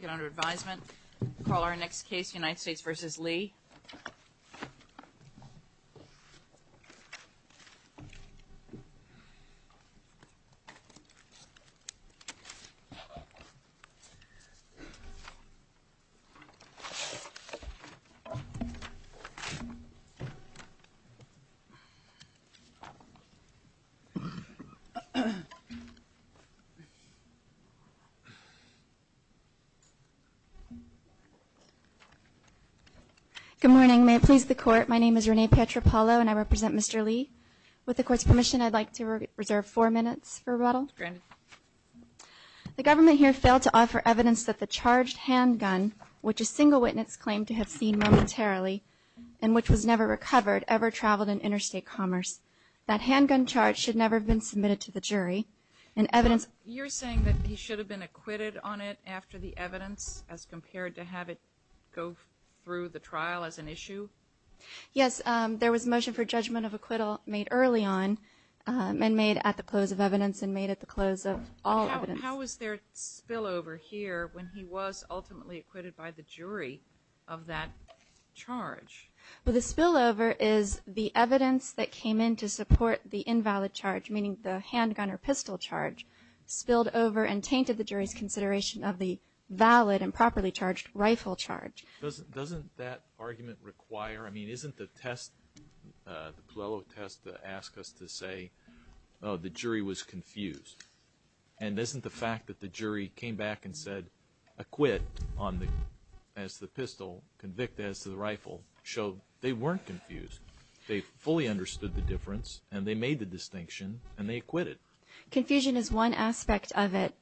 Get under advisement. Call our next case, United States v. Lee. Good morning. May it please the Court, my name is Renee Pietropalo, and I represent Mr. Lee. With the Court's permission, I'd like to reserve four minutes for rebuttal. Granted. The government here failed to offer evidence that the charged handgun, which a single witness claimed to have seen momentarily, and which was never recovered, ever traveled in interstate commerce. That handgun charge should never have been submitted to the jury. You're saying that he should have been acquitted on it after the evidence as compared to have it go through the trial as an issue? Yes, there was a motion for judgment of acquittal made early on and made at the close of evidence and made at the close of all evidence. How is there spillover here when he was ultimately acquitted by the jury of that charge? Well, the spillover is the evidence that came in to support the invalid charge, meaning the handgun or pistol charge, spilled over and tainted the jury's consideration of the valid and properly charged rifle charge. Doesn't that argument require, I mean, isn't the test, the Puello test, to ask us to say, oh, the jury was confused? And isn't the fact that the jury came back and said acquit as to the pistol, convict as to the rifle, show they weren't confused? They fully understood the difference, and they made the distinction, and they acquitted. Confusion is one aspect of it.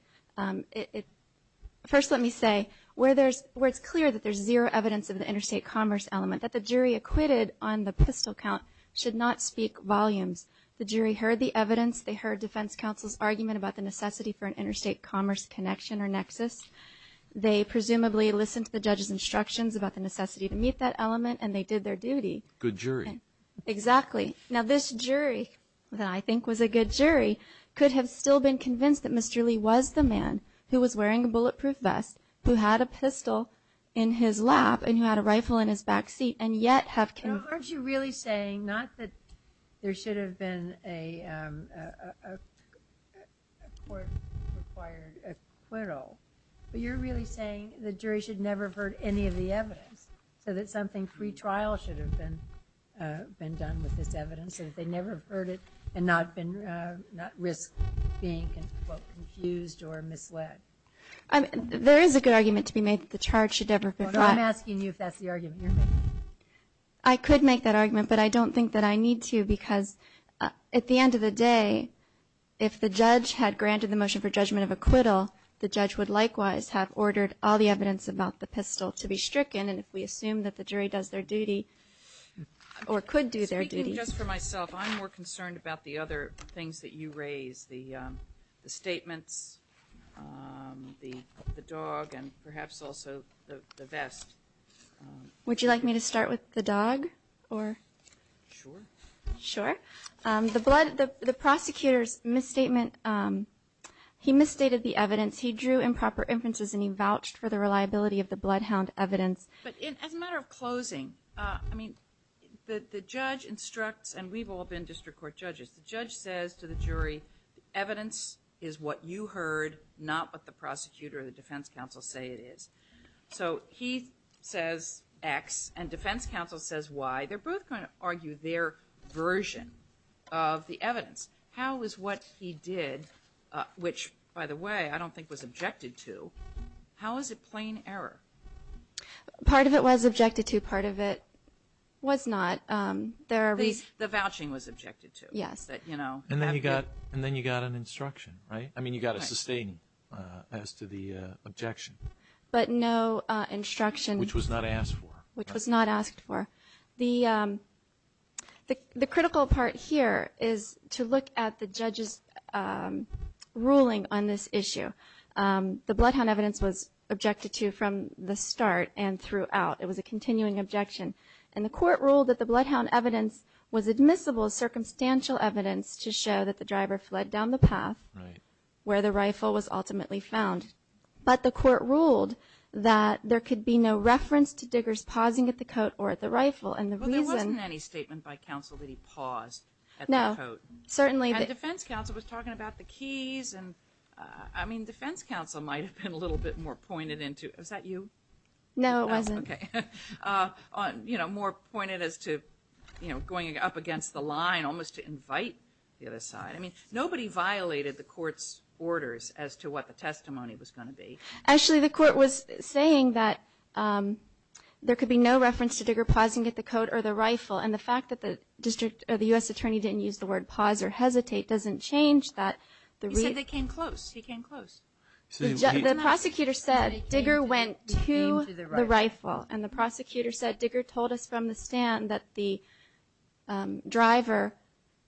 First, let me say, where it's clear that there's zero evidence of the interstate commerce element, that the jury acquitted on the pistol count should not speak volumes. The jury heard the evidence. They heard defense counsel's argument about the necessity for an interstate commerce connection or nexus. They presumably listened to the judge's instructions about the necessity to meet that element, and they did their duty. Good jury. Exactly. Now, this jury, that I think was a good jury, could have still been convinced that Mr. Lee was the man who was wearing a bulletproof vest, who had a pistol in his lap, and who had a rifle in his back seat, But aren't you really saying not that there should have been a court-required acquittal, but you're really saying the jury should never have heard any of the evidence, so that something pre-trial should have been done with this evidence, so that they never have heard it and not risked being, quote, confused or misled? There is a good argument to be made that the charge should never have been filed. I'm asking you if that's the argument you're making. I could make that argument, but I don't think that I need to, because at the end of the day, if the judge had granted the motion for judgment of acquittal, the judge would likewise have ordered all the evidence about the pistol to be stricken, and if we assume that the jury does their duty or could do their duty. Speaking just for myself, I'm more concerned about the other things that you raise, the statements, the dog, and perhaps also the vest. Would you like me to start with the dog? Sure. Sure. The prosecutor's misstatement, he misstated the evidence. He drew improper inferences, and he vouched for the reliability of the bloodhound evidence. But as a matter of closing, I mean, the judge instructs, and we've all been district court judges, the judge says to the jury, evidence is what you heard, not what the prosecutor or the defense counsel say it is. So he says X, and defense counsel says Y. They're both going to argue their version of the evidence. How is what he did, which, by the way, I don't think was objected to, how is it plain error? Part of it was objected to. Part of it was not. The vouching was objected to. Yes. And then you got an instruction, right? I mean, you got a sustaining as to the objection. But no instruction. Which was not asked for. Which was not asked for. The critical part here is to look at the judge's ruling on this issue. The bloodhound evidence was objected to from the start and throughout. It was a continuing objection. And the court ruled that the bloodhound evidence was admissible as circumstantial evidence to show that the driver fled down the path where the rifle was ultimately found. But the court ruled that there could be no reference to Diggers pausing at the coat or at the rifle. Well, there wasn't any statement by counsel that he paused at the coat. No, certainly. And defense counsel was talking about the keys. I mean, defense counsel might have been a little bit more pointed into it. Was that you? No, it wasn't. Okay. You know, more pointed as to, you know, going up against the line, almost to invite the other side. I mean, nobody violated the court's orders as to what the testimony was going to be. Actually, the court was saying that there could be no reference to Digger pausing at the coat or the rifle. And the fact that the U.S. attorney didn't use the word pause or hesitate doesn't change that. He said they came close. He came close. The prosecutor said Digger went to the rifle. And the prosecutor said Digger told us from the stand that the driver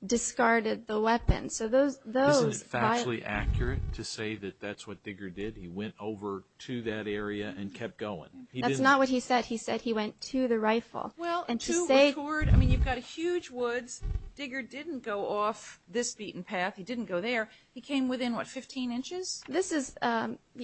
discarded the weapon. Isn't it factually accurate to say that that's what Digger did? He went over to that area and kept going. That's not what he said. He said he went to the rifle. I mean, you've got huge woods. Digger didn't go off this beaten path. He didn't go there. He came within, what, 15 inches? This is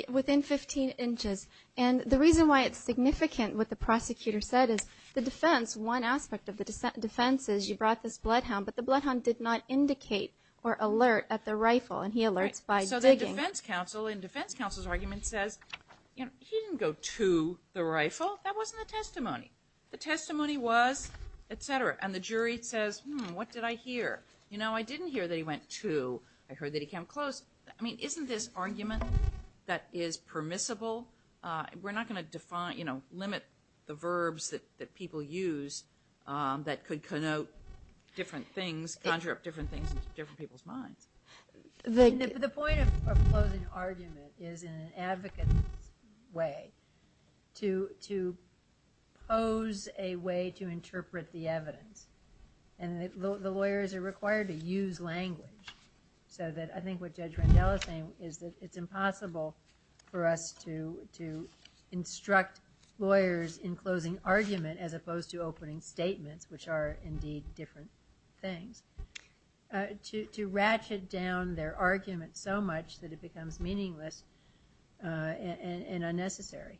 within 15 inches. And the reason why it's significant what the prosecutor said is the defense, one aspect of the defense is you brought this bloodhound, but the bloodhound did not indicate or alert at the rifle. And he alerts by Digger. So the defense counsel in defense counsel's argument says, you know, he didn't go to the rifle. That wasn't the testimony. The testimony was, et cetera. And the jury says, hmm, what did I hear? You know, I didn't hear that he went to. I heard that he came close. I mean, isn't this argument that is permissible? We're not going to define, you know, limit the verbs that people use that could connote different things, conjure up different things into different people's minds. The point of closing argument is an advocate's way to pose a way to interpret the evidence. And the lawyers are required to use language. So I think what Judge Randella is saying is that it's impossible for us to instruct lawyers in closing argument as opposed to opening statements, which are, indeed, different things, to ratchet down their argument so much that it becomes meaningless and unnecessary.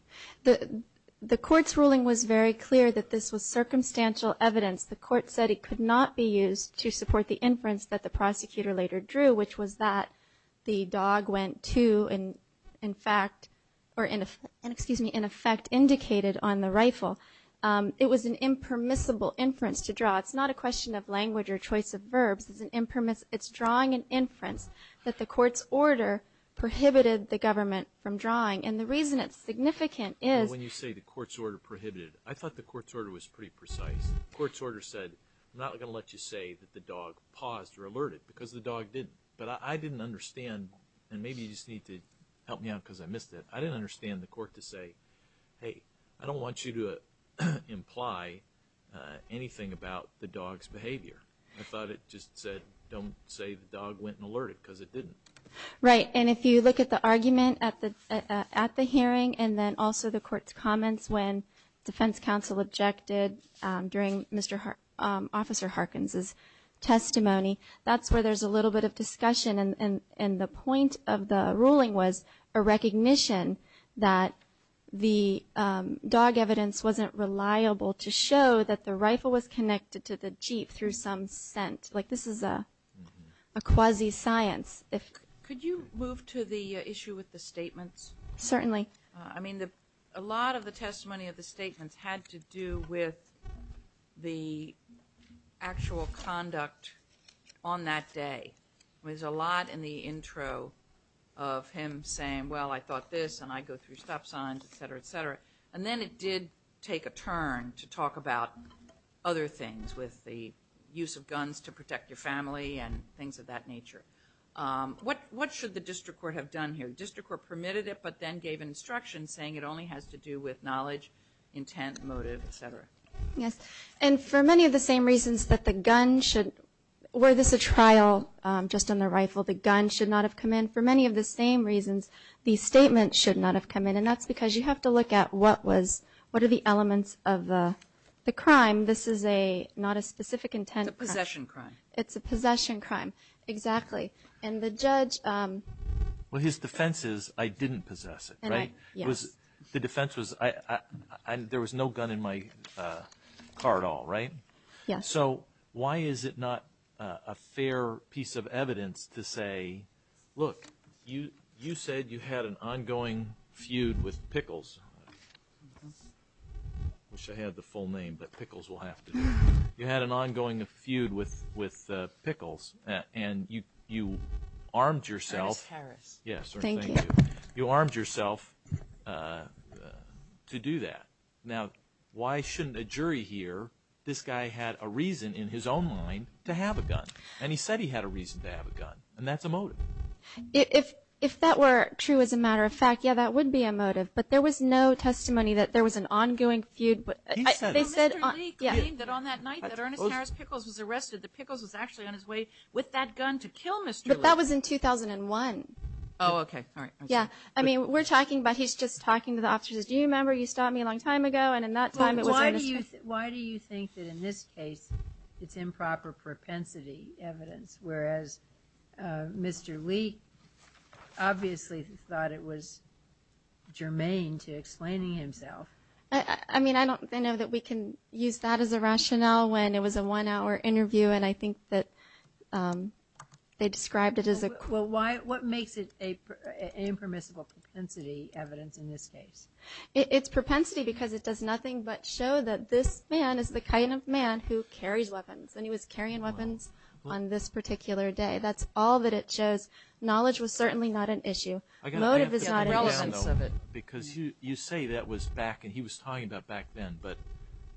The court's ruling was very clear that this was circumstantial evidence. The court said it could not be used to support the inference that the prosecutor later drew, which was that the dog went to and, in fact, or, excuse me, in effect indicated on the rifle. It was an impermissible inference to draw. It's not a question of language or choice of verbs. It's drawing an inference that the court's order prohibited the government from drawing. And the reason it's significant is— When you say the court's order prohibited, I thought the court's order was pretty precise. The court's order said, I'm not going to let you say that the dog paused or alerted because the dog didn't. But I didn't understand, and maybe you just need to help me out because I missed it, I didn't understand the court to say, hey, I don't want you to imply anything about the dog's behavior. I thought it just said, don't say the dog went and alerted because it didn't. Right, and if you look at the argument at the hearing, and then also the court's comments when defense counsel objected during Officer Harkins' testimony, that's where there's a little bit of discussion. And the point of the ruling was a recognition that the dog evidence wasn't reliable to show that the rifle was connected to the jeep through some scent. Like, this is a quasi-science. Could you move to the issue with the statements? Certainly. I mean, a lot of the testimony of the statements had to do with the actual conduct on that day. There's a lot in the intro of him saying, well, I thought this, and I go through stop signs, et cetera, et cetera. And then it did take a turn to talk about other things with the use of guns to protect your family and things of that nature. What should the district court have done here? The district court permitted it, but then gave an instruction saying it only has to do with knowledge, intent, motive, et cetera. Yes, and for many of the same reasons that the gun should – were this a trial just on the rifle, the gun should not have come in. For many of the same reasons, the statement should not have come in, and that's because you have to look at what are the elements of the crime. This is not a specific intent crime. It's a possession crime. It's a possession crime, exactly. And the judge – Well, his defense is, I didn't possess it, right? Yes. The defense was, there was no gun in my car at all, right? Yes. So why is it not a fair piece of evidence to say, look, you said you had an ongoing feud with Pickles. I wish I had the full name, but Pickles will have to do it. You had an ongoing feud with Pickles, and you armed yourself. Harris. Yes. Thank you. You armed yourself to do that. Now, why shouldn't a jury hear? This guy had a reason in his own mind to have a gun, and he said he had a reason to have a gun, and that's a motive. If that were true as a matter of fact, yeah, that would be a motive. But there was no testimony that there was an ongoing feud. He said it. No, Mr. Lee claimed that on that night that Ernest Harris Pickles was arrested, that Pickles was actually on his way with that gun to kill Mr. Lee. But that was in 2001. Oh, okay. All right. Yeah. I mean, we're talking, but he's just talking to the officers. Do you remember? You stopped me a long time ago, and in that time it was Ernest Harris. Why do you think that in this case it's improper propensity evidence, whereas Mr. Lee obviously thought it was germane to explaining himself? I mean, I know that we can use that as a rationale when it was a one-hour interview, and I think that they described it as a quirk. Well, what makes it an impermissible propensity evidence in this case? It's propensity because it does nothing but show that this man is the kind of man who carries weapons, and he was carrying weapons on this particular day. That's all that it shows. Knowledge was certainly not an issue. Motive is not an issue. I've got to answer the way down, though, because you say that was back, and he was talking about back then, but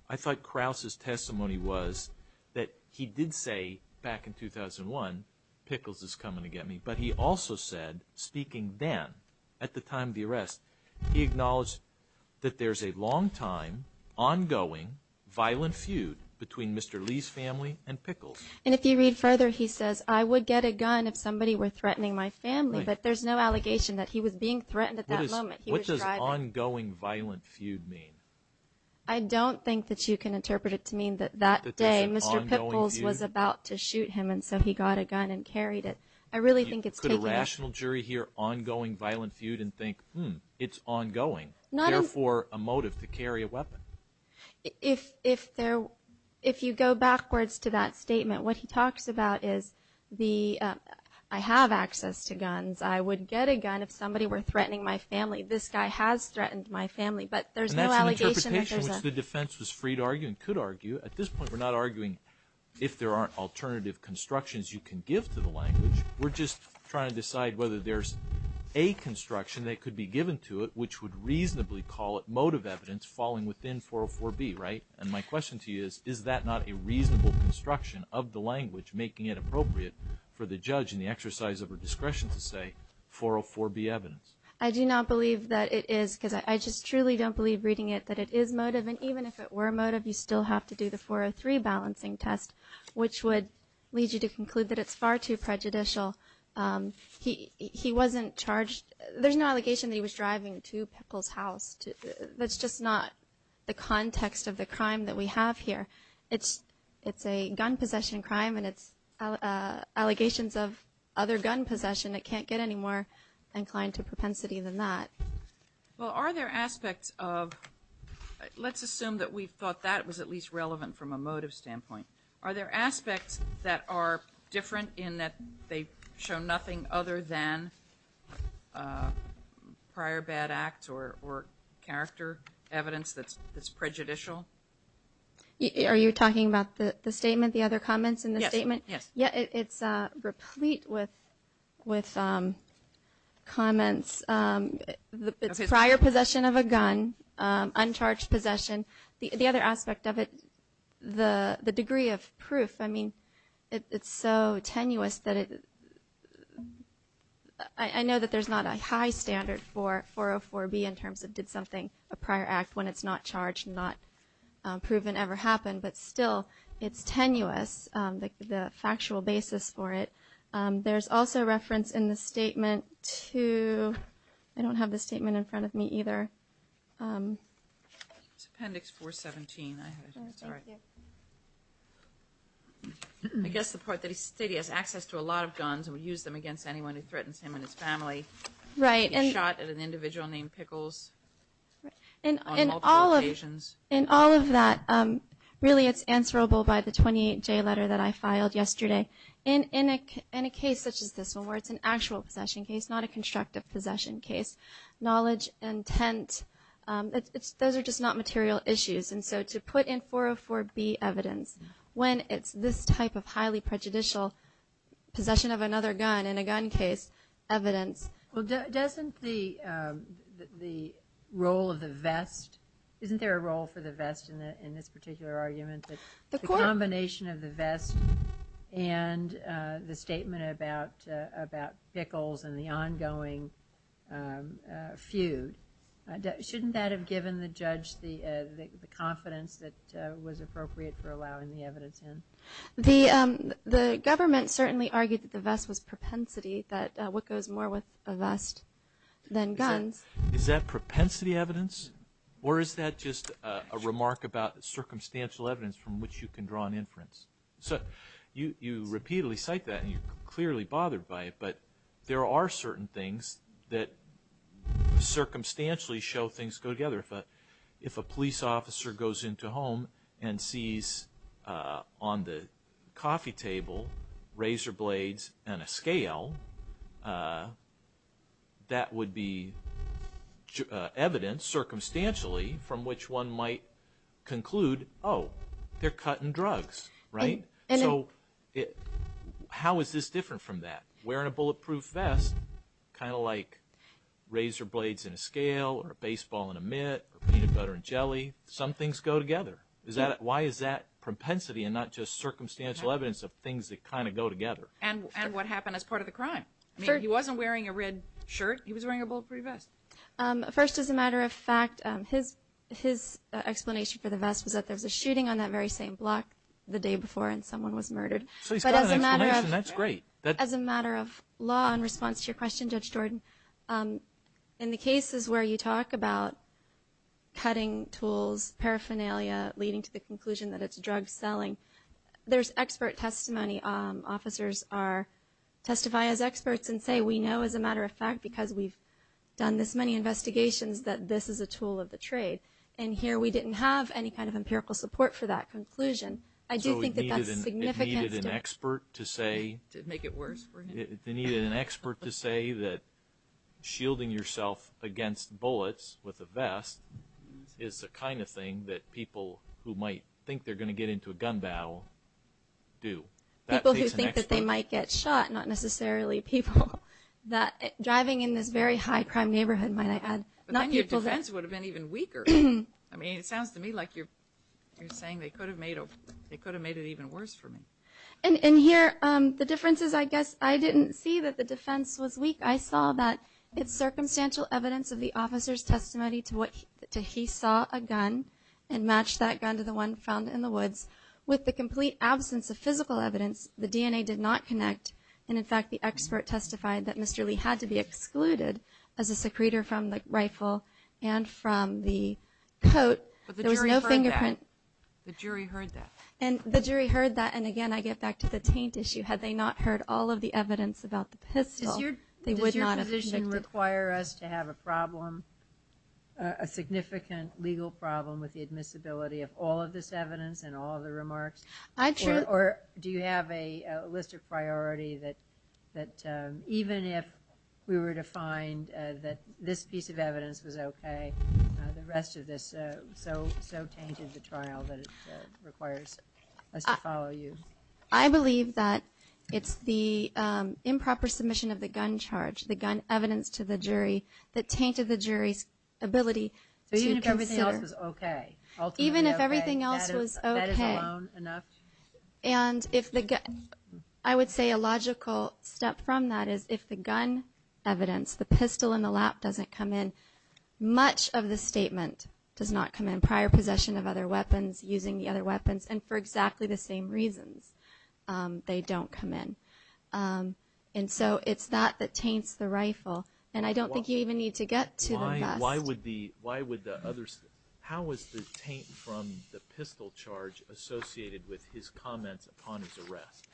I thought Krause's testimony was that he did say back in 2001, Pickles is coming to get me. But he also said, speaking then, at the time of the arrest, he acknowledged that there's a long-time ongoing violent feud between Mr. Lee's family and Pickles. And if you read further, he says, I would get a gun if somebody were threatening my family, but there's no allegation that he was being threatened at that moment. What does ongoing violent feud mean? I don't think that you can interpret it to mean that that day Mr. Pickles was about to shoot him, and so he got a gun and carried it. Could a rational jury hear ongoing violent feud and think, hmm, it's ongoing, therefore a motive to carry a weapon? If you go backwards to that statement, what he talks about is the, I have access to guns, I would get a gun if somebody were threatening my family. This guy has threatened my family, but there's no allegation that there's a ---- And that's an interpretation which the defense was free to argue and could argue. At this point, we're not arguing if there aren't alternative constructions you can give to the language. We're just trying to decide whether there's a construction that could be given to it which would reasonably call it motive evidence falling within 404B, right? And my question to you is, is that not a reasonable construction of the language making it appropriate for the judge in the exercise of her discretion to say 404B evidence? I do not believe that it is because I just truly don't believe reading it that it is motive. And even if it were motive, you still have to do the 403 balancing test, which would lead you to conclude that it's far too prejudicial. He wasn't charged. There's no allegation that he was driving to Pickle's house. That's just not the context of the crime that we have here. It's a gun possession crime, and it's allegations of other gun possession. It can't get any more inclined to propensity than that. Well, are there aspects of – let's assume that we thought that was at least relevant from a motive standpoint. Are there aspects that are different in that they show nothing other than prior bad act or character evidence that's prejudicial? Are you talking about the statement, the other comments in the statement? Yes, yes. Yeah, it's replete with comments. It's prior possession of a gun, uncharged possession. The other aspect of it, the degree of proof, I mean, it's so tenuous that it – I know that there's not a high standard for 404B in terms of did something, a prior act when it's not charged, not proven ever happened, but still it's tenuous. The factual basis for it, there's also reference in the statement to – I don't have the statement in front of me either. It's Appendix 417. Sorry. I guess the part that he said he has access to a lot of guns and would use them against anyone who threatens him and his family. Right. He shot at an individual named Pickles on multiple occasions. In all of that, really it's answerable by the 28J letter that I filed yesterday. In a case such as this one where it's an actual possession case, not a constructive possession case, knowledge, intent, those are just not material issues. And so to put in 404B evidence when it's this type of highly prejudicial possession of another gun in a gun case, evidence. Well, doesn't the role of the vest – isn't there a role for the vest in this particular argument? The combination of the vest and the statement about Pickles and the ongoing feud, shouldn't that have given the judge the confidence that was appropriate for allowing the evidence in? The government certainly argued that the vest was propensity, that what goes more with a vest than guns. Is that propensity evidence? Or is that just a remark about circumstantial evidence from which you can draw an inference? So you repeatedly cite that and you're clearly bothered by it, but there are certain things that circumstantially show things go together. If a police officer goes into a home and sees on the coffee table razor blades and a scale, that would be evidence circumstantially from which one might conclude, oh, they're cutting drugs, right? So how is this different from that? Kind of like razor blades and a scale or a baseball and a mitt or peanut butter and jelly. Some things go together. Why is that propensity and not just circumstantial evidence of things that kind of go together? And what happened as part of the crime? He wasn't wearing a red shirt. He was wearing a bulletproof vest. First, as a matter of fact, his explanation for the vest was that there was a shooting on that very same block the day before and someone was murdered. So he's got an explanation. That's great. As a matter of law, in response to your question, Judge Jordan, in the cases where you talk about cutting tools, paraphernalia, leading to the conclusion that it's drug selling, there's expert testimony. Officers testify as experts and say, we know as a matter of fact, because we've done this many investigations, that this is a tool of the trade. And here we didn't have any kind of empirical support for that conclusion. So it needed an expert to say that shielding yourself against bullets with a vest is the kind of thing that people who might think they're going to get into a gun battle do. People who think that they might get shot, not necessarily people. Driving in this very high crime neighborhood, might I add. But then your defense would have been even weaker. I mean, it sounds to me like you're saying they could have made it even worse for me. And here, the difference is, I guess, I didn't see that the defense was weak. I saw that it's circumstantial evidence of the officer's testimony to he saw a gun and matched that gun to the one found in the woods. With the complete absence of physical evidence, the DNA did not connect. And, in fact, the expert testified that Mr. Lee had to be excluded as a secretor from the rifle and from the coat. There was no fingerprint. But the jury heard that. The jury heard that. And the jury heard that. And, again, I get back to the taint issue. Had they not heard all of the evidence about the pistol, they would not have convicted. Does your position require us to have a problem, a significant legal problem, with the admissibility of all of this evidence and all of the remarks? Or do you have a list of priority that even if we were to find that this piece of evidence was okay, the rest of this so tainted the trial that it requires us to follow you? I believe that it's the improper submission of the gun charge, the gun evidence to the jury, that tainted the jury's ability to consider. So even if everything else was okay? Even if everything else was okay. That is alone enough? And I would say a logical step from that is if the gun evidence, the pistol in the lap doesn't come in, much of the statement does not come in, prior possession of other weapons, using the other weapons, and for exactly the same reasons they don't come in. And so it's that that taints the rifle. And I don't think you even need to get to the rest. Why would the others – how is the taint from the pistol charge associated with his comments upon his arrest?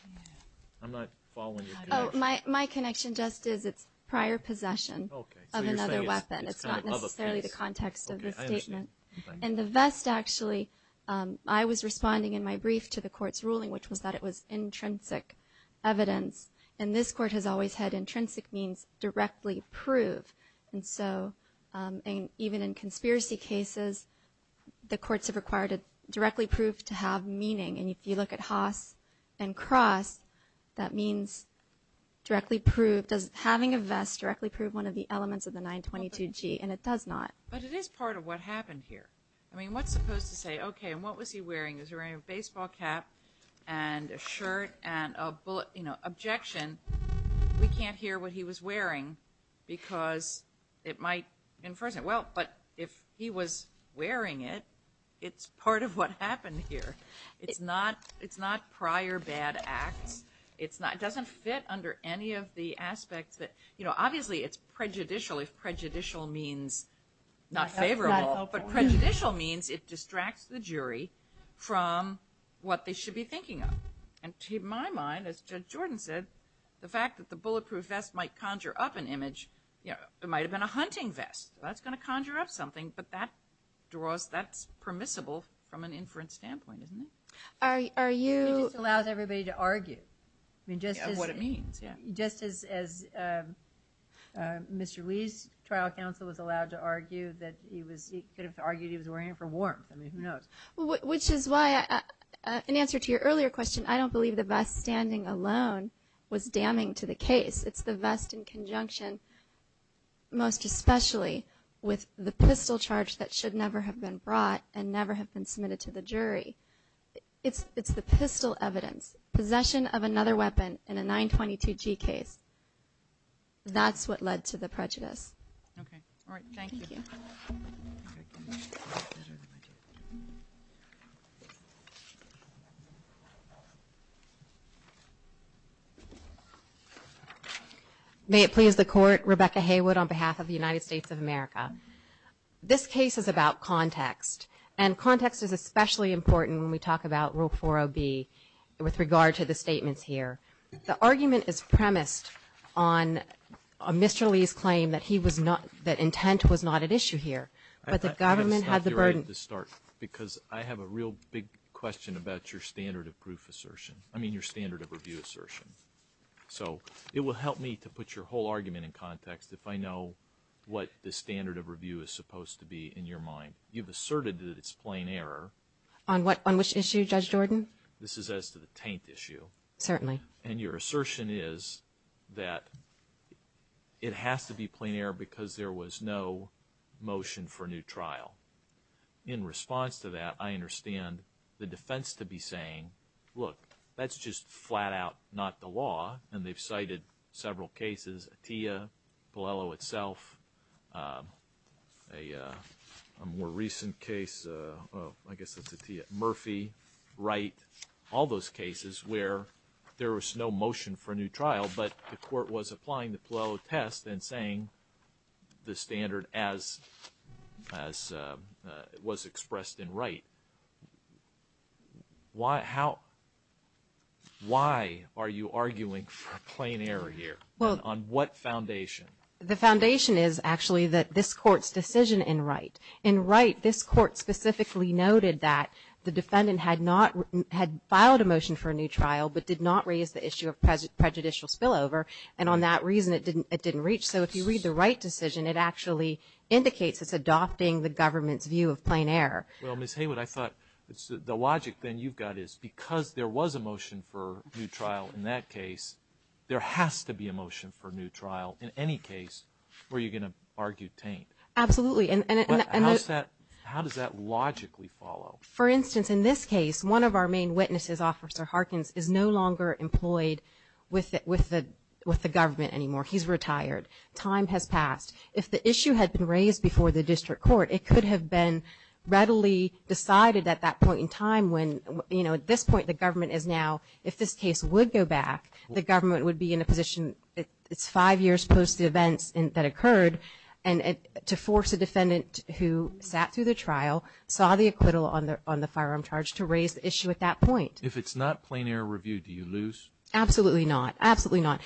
I'm not following your connection. My connection just is it's prior possession of another weapon. It's not necessarily the context of the statement. And the vest, actually, I was responding in my brief to the court's ruling, which was that it was intrinsic evidence. And this court has always had intrinsic means directly prove. And so even in conspiracy cases, the courts have required it directly prove to have meaning. And if you look at Haas and Cross, that means directly prove. Does having a vest directly prove one of the elements of the 922G? And it does not. But it is part of what happened here. I mean, what's supposed to say, okay, and what was he wearing? Was he wearing a baseball cap and a shirt and a bullet, you know, objection? We can't hear what he was wearing because it might infringe it. Well, but if he was wearing it, it's part of what happened here. It's not prior bad acts. It doesn't fit under any of the aspects that, you know, obviously it's prejudicial if prejudicial means not favorable. But prejudicial means it distracts the jury from what they should be thinking of. And to my mind, as Judge Jordan said, the fact that the bulletproof vest might conjure up an image, you know, it might have been a hunting vest. That's going to conjure up something. But that's permissible from an inference standpoint, isn't it? It just allows everybody to argue. What it means, yeah. Just as Mr. Lee's trial counsel was allowed to argue that he could have argued he was wearing it for warmth. I mean, who knows? Which is why, in answer to your earlier question, I don't believe the vest standing alone was damning to the case. It's the vest in conjunction, most especially, with the pistol charge that should never have been brought and never have been submitted to the jury. It's the pistol evidence, possession of another weapon in a 922G case. That's what led to the prejudice. Okay. All right. Thank you. Thank you. May it please the Court. Rebecca Haywood on behalf of the United States of America. This case is about context, and context is especially important when we talk about Rule 40B with regard to the statements here. The argument is premised on Mr. Lee's claim that intent was not at issue here, but the government had the burden. I have to stop you right at the start because I have a real big question about your standard of proof assertion. I mean, your standard of review assertion. So it will help me to put your whole argument in context if I know what the standard of review is supposed to be in your mind. You've asserted that it's plain error. On which issue, Judge Jordan? This is as to the taint issue. Certainly. And your assertion is that it has to be plain error because there was no motion for a new trial. In response to that, I understand the defense to be saying, look, that's just flat out not the law, and they've cited several cases, Atiyah, Paliello itself, a more recent case, well, I guess that's Atiyah, Murphy, Wright, all those cases where there was no motion for a new trial, but the court was applying the Paliello test and saying the standard as was expressed in Wright. Why are you arguing for plain error here? On what foundation? The foundation is actually this court's decision in Wright. In Wright, this court specifically noted that the defendant had filed a motion for a new trial but did not raise the issue of prejudicial spillover, and on that reason it didn't reach. So if you read the Wright decision, it actually indicates it's adopting the government's view of plain error. Well, Ms. Haywood, I thought the logic then you've got is because there was a motion for a new trial in that case, there has to be a motion for a new trial in any case where you're going to argue taint. Absolutely. How does that logically follow? For instance, in this case, one of our main witnesses, Officer Harkins, is no longer employed with the government anymore. He's retired. Time has passed. If the issue had been raised before the district court, it could have been readily decided at that point in time when, you know, at this point the government is now, if this case would go back, the government would be in a position, it's five years post the events that occurred, and to force a defendant who sat through the trial, saw the acquittal on the firearm charge, to raise the issue at that point. If it's not plain error review, do you lose? Absolutely not. Absolutely not.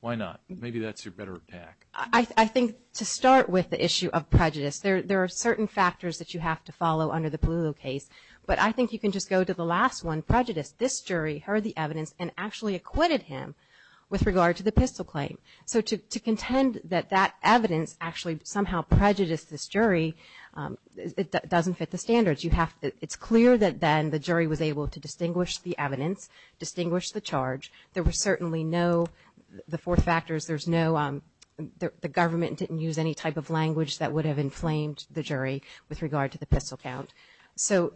Why not? Maybe that's your better attack. I think to start with the issue of prejudice, there are certain factors that you have to follow under the Palullo case, but I think you can just go to the last one, prejudice. This jury heard the evidence and actually acquitted him with regard to the pistol claim. So to contend that that evidence actually somehow prejudiced this jury, it doesn't fit the standards. It's clear that then the jury was able to distinguish the evidence, distinguish the charge. There were certainly no, the four factors, there's no, the government didn't use any type of language that would have inflamed the jury with regard to the pistol count. So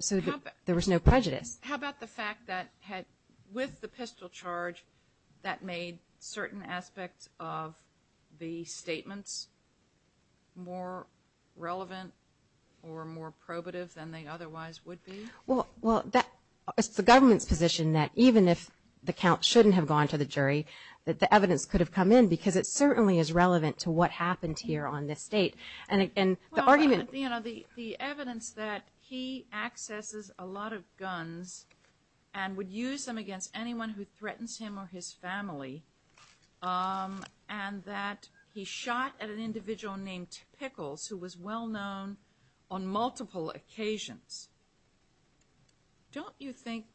there was no prejudice. How about the fact that with the pistol charge, that made certain aspects of the statements more relevant or more probative than they otherwise would be? Well, it's the government's position that even if the count shouldn't have gone to the jury, that the evidence could have come in because it certainly is relevant to what happened here on this date. And the argument – Well, you know, the evidence that he accesses a lot of guns and would use them against anyone who threatens him or his family and that he shot at an individual named Pickles who was well known on multiple occasions. Don't you think,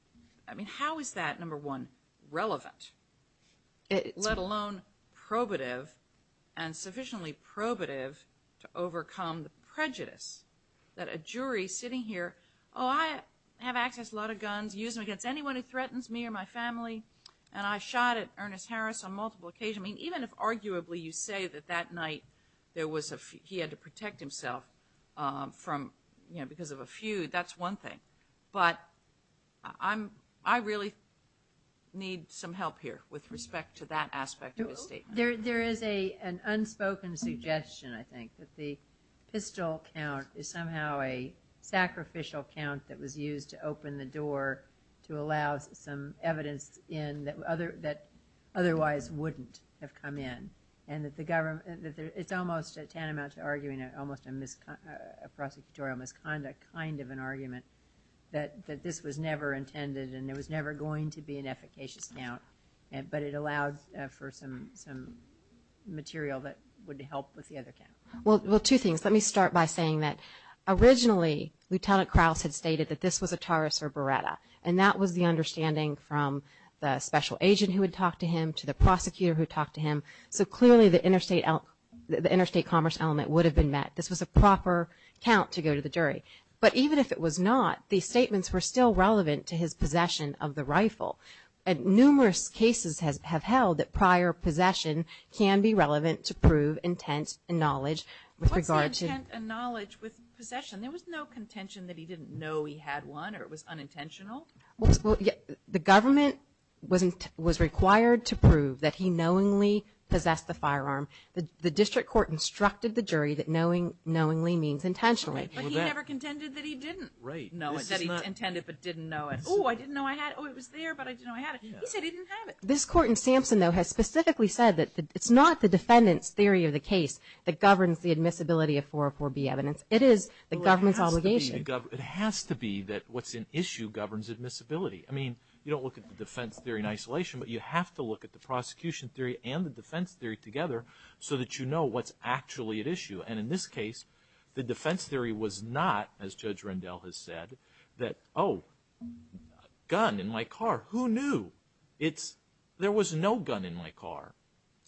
I mean, how is that, number one, relevant? Let alone probative and sufficiently probative to overcome the prejudice that a jury sitting here, oh, I have access to a lot of guns, use them against anyone who threatens me or my family, and I shot at Ernest Harris on multiple occasions. I mean, even if arguably you say that that night there was a – he had to protect himself from, you know, because of a feud, that's one thing. But I really need some help here with respect to that aspect of his statement. There is an unspoken suggestion, I think, that the pistol count is somehow a sacrificial count that was used to open the door to allow some evidence in that otherwise wouldn't have come in. And that the government – it's almost tantamount to arguing almost a prosecutorial misconduct kind of an argument that this was never intended and there was never going to be an efficacious count, but it allowed for some material that would help with the other count. Well, two things. Let me start by saying that originally, Lieutenant Krauss had stated that this was a Taurus or Beretta, and that was the understanding from the special agent who had talked to him to the prosecutor who talked to him. So clearly the interstate commerce element would have been met. This was a proper count to go to the jury. But even if it was not, these statements were still relevant to his possession of the rifle. Numerous cases have held that prior possession can be relevant to prove intent and knowledge with regard to – What's intent and knowledge with possession? There was no contention that he didn't know he had one or it was unintentional? The government was required to prove that he knowingly possessed the firearm. The district court instructed the jury that knowingly means intentionally. But he never contended that he didn't know it, that he intended but didn't know it. Oh, I didn't know I had it. Oh, it was there, but I didn't know I had it. He said he didn't have it. This court in Sampson, though, has specifically said that it's not the defendant's theory of the case that governs the admissibility of 404B evidence. It is the government's obligation. It has to be that what's at issue governs admissibility. I mean, you don't look at the defense theory in isolation, but you have to look at the prosecution theory and the defense theory together so that you know what's actually at issue. And in this case, the defense theory was not, as Judge Rendell has said, that, oh, a gun in my car. Who knew? There was no gun in my car.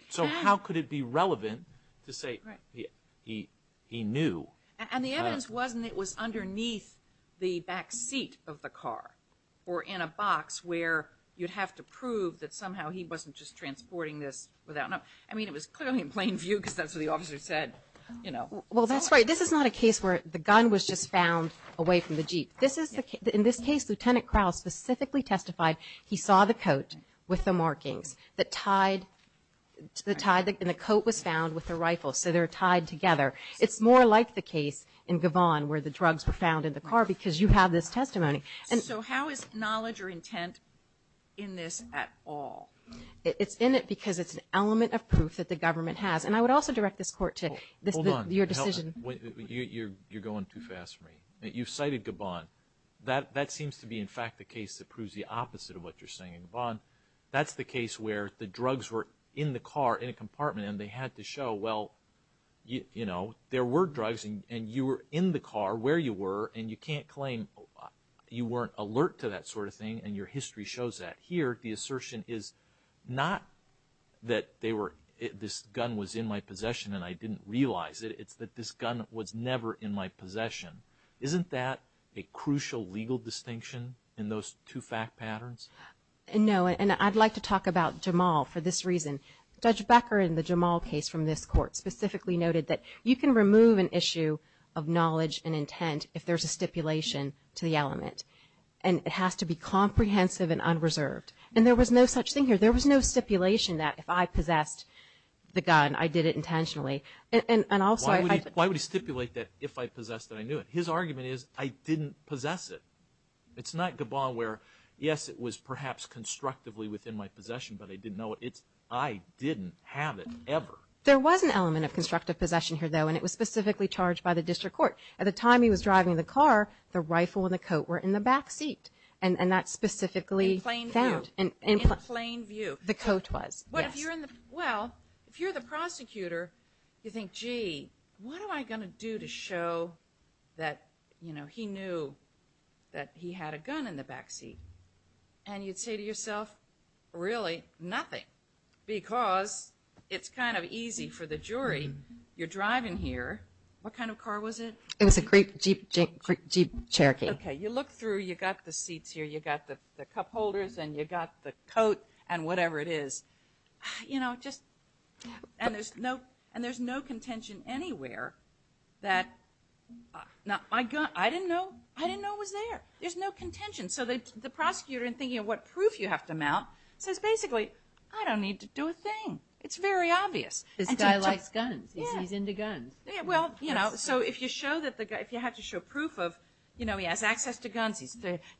So how could it be relevant to say he knew? And the evidence wasn't that it was underneath the back seat of the car or in a box where you'd have to prove that somehow he wasn't just transporting this. I mean, it was clearly in plain view because that's what the officer said. Well, that's right. This is not a case where the gun was just found away from the Jeep. In this case, Lieutenant Crowell specifically testified he saw the coat with the markings and the coat was found with the rifle, so they're tied together. It's more like the case in Gavon where the drugs were found in the car because you have this testimony. So how is knowledge or intent in this at all? It's in it because it's an element of proof that the government has. And I would also direct this court to your decision. Hold on. You're going too fast for me. You've cited Gavon. That seems to be, in fact, the case that proves the opposite of what you're saying. Gavon, that's the case where the drugs were in the car in a compartment and they had to show, well, you know, there were drugs, and you were in the car where you were, and you can't claim you weren't alert to that sort of thing, and your history shows that. But here the assertion is not that this gun was in my possession and I didn't realize it. It's that this gun was never in my possession. Isn't that a crucial legal distinction in those two fact patterns? No, and I'd like to talk about Jamal for this reason. Judge Becker in the Jamal case from this court specifically noted that you can remove an issue of knowledge and intent if there's a stipulation to the element, and it has to be comprehensive and unreserved. And there was no such thing here. There was no stipulation that if I possessed the gun, I did it intentionally. Why would he stipulate that if I possessed it, I knew it? His argument is I didn't possess it. It's not Gavon where, yes, it was perhaps constructively within my possession, but I didn't know it. It's I didn't have it ever. There was an element of constructive possession here, though, and it was specifically charged by the district court. At the time he was driving the car, the rifle and the coat were in the backseat, and that's specifically found. In plain view. In plain view. The coat was, yes. Well, if you're the prosecutor, you think, gee, what am I going to do to show that, you know, he knew that he had a gun in the backseat? And you'd say to yourself, really, nothing, because it's kind of easy for the jury. You're driving here. What kind of car was it? It was a Jeep Cherokee. Okay. You look through. You've got the seats here. You've got the cup holders and you've got the coat and whatever it is. You know, just, and there's no contention anywhere that my gun, I didn't know it was there. There's no contention. So the prosecutor, in thinking of what proof you have to mount, says basically I don't need to do a thing. It's very obvious. This guy likes guns. He's into guns. Well, you know, so if you have to show proof of, you know, he has access to guns.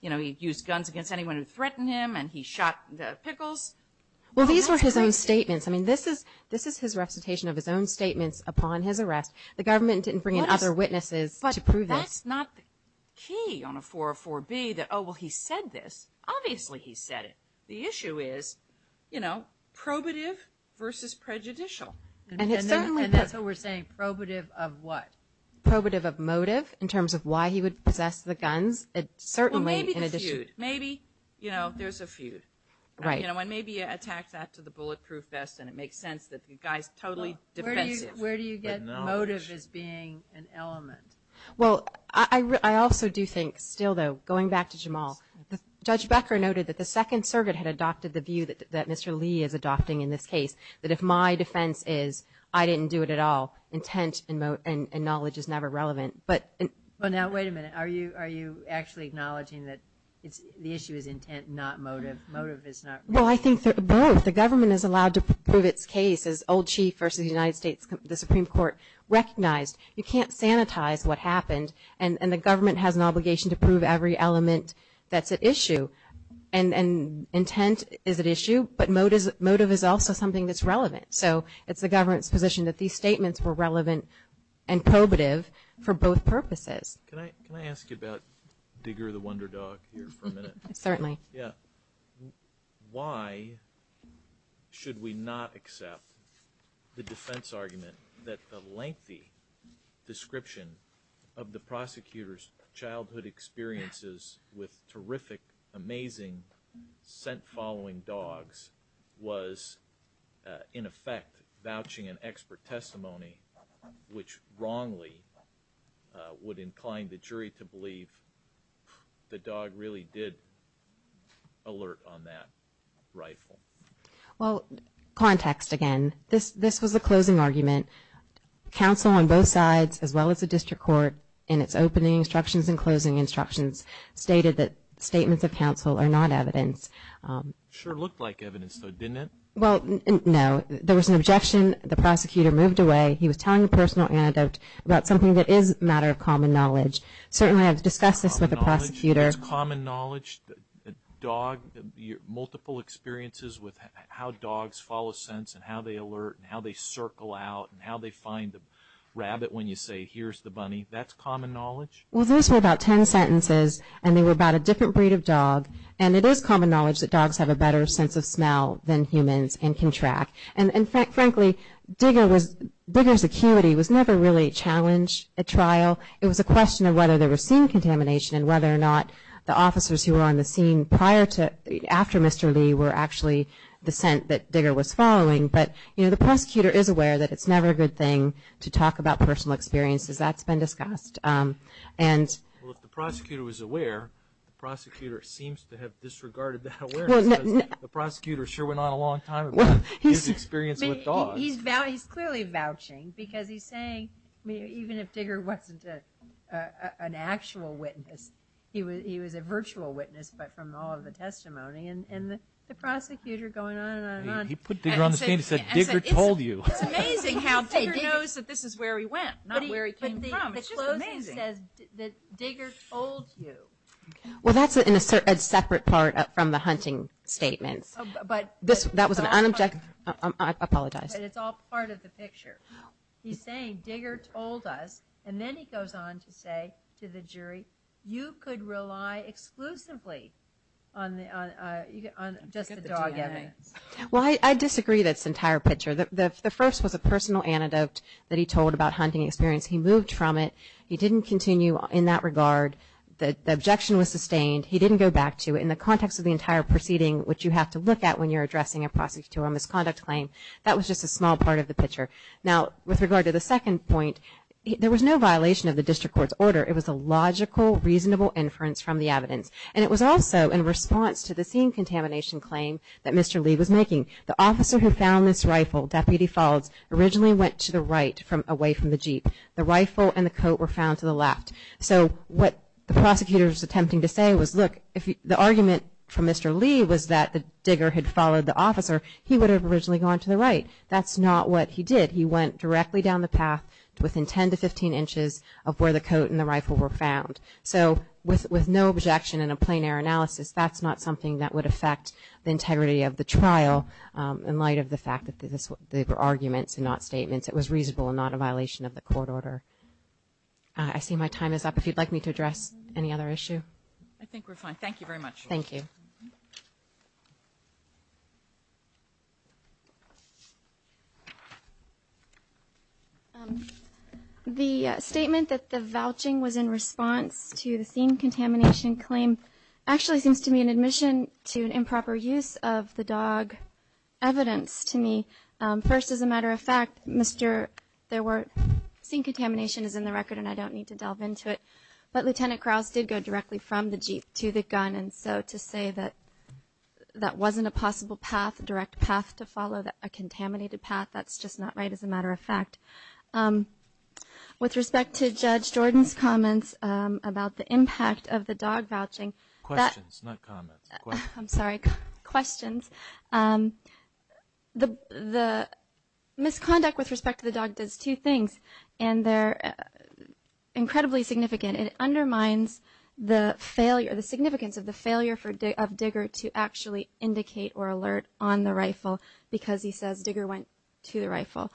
You know, he used guns against anyone who threatened him and he shot the Pickles. Well, these were his own statements. I mean, this is his recitation of his own statements upon his arrest. The government didn't bring in other witnesses to prove this. But that's not key on a 404B that, oh, well, he said this. Obviously he said it. The issue is, you know, probative versus prejudicial. And that's what we're saying, probative of what? Probative of motive in terms of why he would possess the guns. Well, maybe the feud. Maybe, you know, there's a feud. Right. You know, and maybe you attack that to the bulletproof vest and it makes sense that the guy's totally defensive. Where do you get motive as being an element? Well, I also do think still, though, going back to Jamal, Judge Becker noted that the Second Circuit had adopted the view that Mr. Lee is adopting in this case, that if my defense is I didn't do it at all, intent and knowledge is never relevant. Well, now, wait a minute. Are you actually acknowledging that the issue is intent, not motive? Motive is not relevant. Well, I think both. The government is allowed to prove its case, as old chief versus the United States Supreme Court recognized. You can't sanitize what happened. And the government has an obligation to prove every element that's at issue. And intent is at issue, but motive is also something that's relevant. So it's the government's position that these statements were relevant and probative for both purposes. Can I ask you about Digger the Wonder Dog here for a minute? Certainly. Yeah. Why should we not accept the defense argument that the lengthy description of the prosecutor's childhood experiences with terrific, amazing, scent-following dogs was, in effect, vouching an expert testimony, which wrongly would incline the jury to believe the dog really did alert on that rifle? Well, context again. This was a closing argument. Counsel on both sides, as well as the district court, in its opening instructions and closing instructions, stated that statements of counsel are not evidence. Sure looked like evidence, though, didn't it? Well, no. There was an objection. When the prosecutor moved away, he was telling a personal anecdote about something that is a matter of common knowledge. Certainly I've discussed this with the prosecutor. Common knowledge? The dog, multiple experiences with how dogs follow scents and how they alert and how they circle out and how they find the rabbit when you say, here's the bunny. That's common knowledge? Well, those were about ten sentences, and they were about a different breed of dog. And it is common knowledge that dogs have a better sense of smell than humans and can track. And frankly, Digger's acuity was never really a challenge at trial. It was a question of whether there was scene contamination and whether or not the officers who were on the scene prior to, after Mr. Lee were actually the scent that Digger was following. But, you know, the prosecutor is aware that it's never a good thing to talk about personal experiences. That's been discussed. Well, if the prosecutor was aware, the prosecutor seems to have disregarded that awareness. The prosecutor sure went on a long time. His experience with dogs. He's clearly vouching because he's saying, even if Digger wasn't an actual witness, he was a virtual witness, but from all of the testimony and the prosecutor going on and on and on. He put Digger on the scene and said, Digger told you. It's amazing how Digger knows that this is where he went, not where he came from. It's just amazing. The closing says that Digger told you. Well, that's a separate part from the hunting statement. That was an unobjective, I apologize. It's all part of the picture. He's saying Digger told us, and then he goes on to say to the jury, you could rely exclusively on just the dog evidence. Well, I disagree with this entire picture. The first was a personal antidote that he told about hunting experience. He moved from it. He didn't continue in that regard. The objection was sustained. He didn't go back to it. In the context of the entire proceeding, which you have to look at when you're addressing a prosecutor or a misconduct claim, that was just a small part of the picture. Now, with regard to the second point, there was no violation of the district court's order. It was a logical, reasonable inference from the evidence. And it was also in response to the scene contamination claim that Mr. Lee was making. The officer who found this rifle, Deputy Faulds, originally went to the right away from the Jeep. The rifle and the coat were found to the left. So what the prosecutor was attempting to say was, look, the argument from Mr. Lee was that the digger had followed the officer. He would have originally gone to the right. That's not what he did. He went directly down the path within 10 to 15 inches of where the coat and the rifle were found. So with no objection and a plain error analysis, that's not something that would affect the integrity of the trial in light of the fact that they were arguments and not statements, it was reasonable and not a violation of the court order. I see my time is up. If you'd like me to address any other issue. I think we're fine. Thank you very much. Thank you. The statement that the vouching was in response to the scene contamination claim actually seems to me an admission to improper use of the dog evidence to me. First, as a matter of fact, there were, scene contamination is in the record and I don't need to delve into it, but Lieutenant Krause did go directly from the Jeep to the gun, and so to say that that wasn't a possible path, direct path to follow, a contaminated path, that's just not right as a matter of fact. With respect to Judge Jordan's comments about the impact of the dog vouching. Questions, not comments. I'm sorry, questions. The misconduct with respect to the dog does two things, and they're incredibly significant. It undermines the significance of the failure of Digger to actually indicate or alert on the rifle because he says Digger went to the rifle.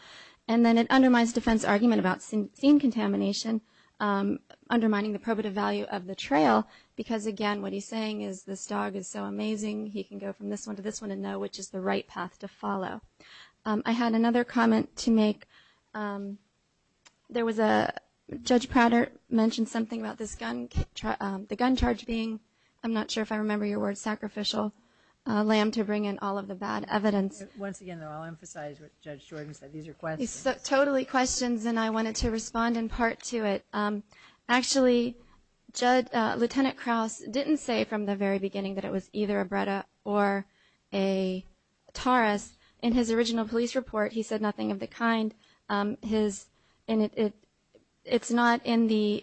And then it undermines defense argument about scene contamination, undermining the probative value of the trail because, again, what he's saying is this dog is so amazing. He can go from this one to this one and know which is the right path to follow. I had another comment to make. There was a, Judge Prater mentioned something about this gun, the gun charge being, I'm not sure if I remember your word, sacrificial lamb to bring in all of the bad evidence. Once again, though, I'll emphasize what Judge Jordan said. These are questions. Totally questions, and I wanted to respond in part to it. Actually, Lieutenant Krause didn't say from the very beginning that it was either a Breda or a Taurus. In his original police report, he said nothing of the kind. It's an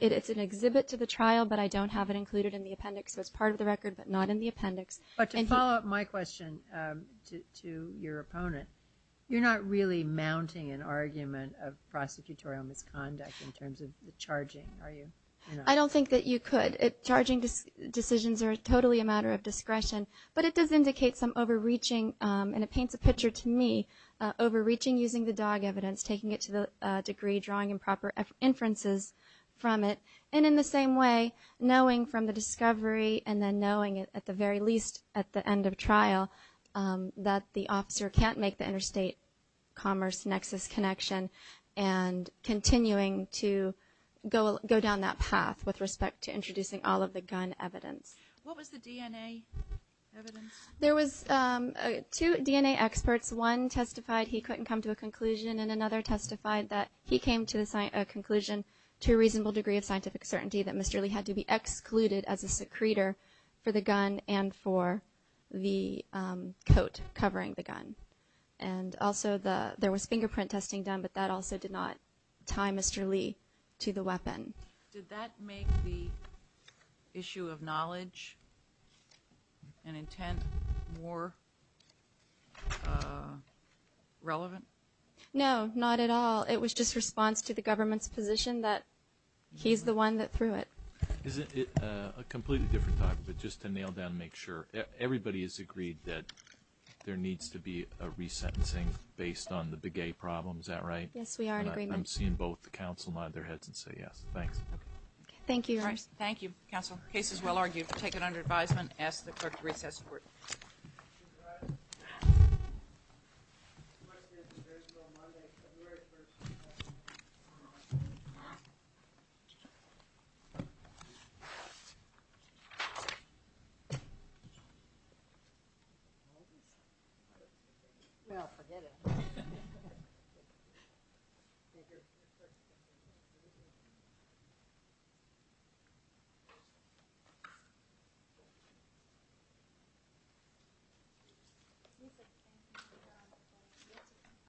exhibit to the trial, but I don't have it included in the appendix. So it's part of the record, but not in the appendix. But to follow up my question to your opponent, you're not really mounting an argument of prosecutorial misconduct in terms of the charging, are you? I don't think that you could. Charging decisions are totally a matter of discretion, but it does indicate some overreaching, and it paints a picture to me, overreaching using the dog evidence, taking it to the degree, drawing improper inferences from it, and in the same way, knowing from the discovery and then knowing at the very least at the end of trial that the officer can't make the interstate commerce nexus connection and continuing to go down that path with respect to introducing all of the gun evidence. What was the DNA evidence? There was two DNA experts. One testified he couldn't come to a conclusion, and another testified that he came to a conclusion to a reasonable degree of scientific certainty that Mr. Lee had to be excluded as a secretor for the gun and for the coat covering the gun. And also there was fingerprint testing done, but that also did not tie Mr. Lee to the weapon. Did that make the issue of knowledge and intent more relevant? No, not at all. It was just response to the government's position that he's the one that threw it. Is it a completely different topic, but just to nail down and make sure, everybody has agreed that there needs to be a resentencing based on the Begay problem. Is that right? Yes, we are in agreement. I'm seeing both the counsel nod their heads and say yes. Thanks. Thank you. Thank you, counsel. Case is well argued. We'll take it under advisement. Ask the clerk to recess. Thank you. Thank you.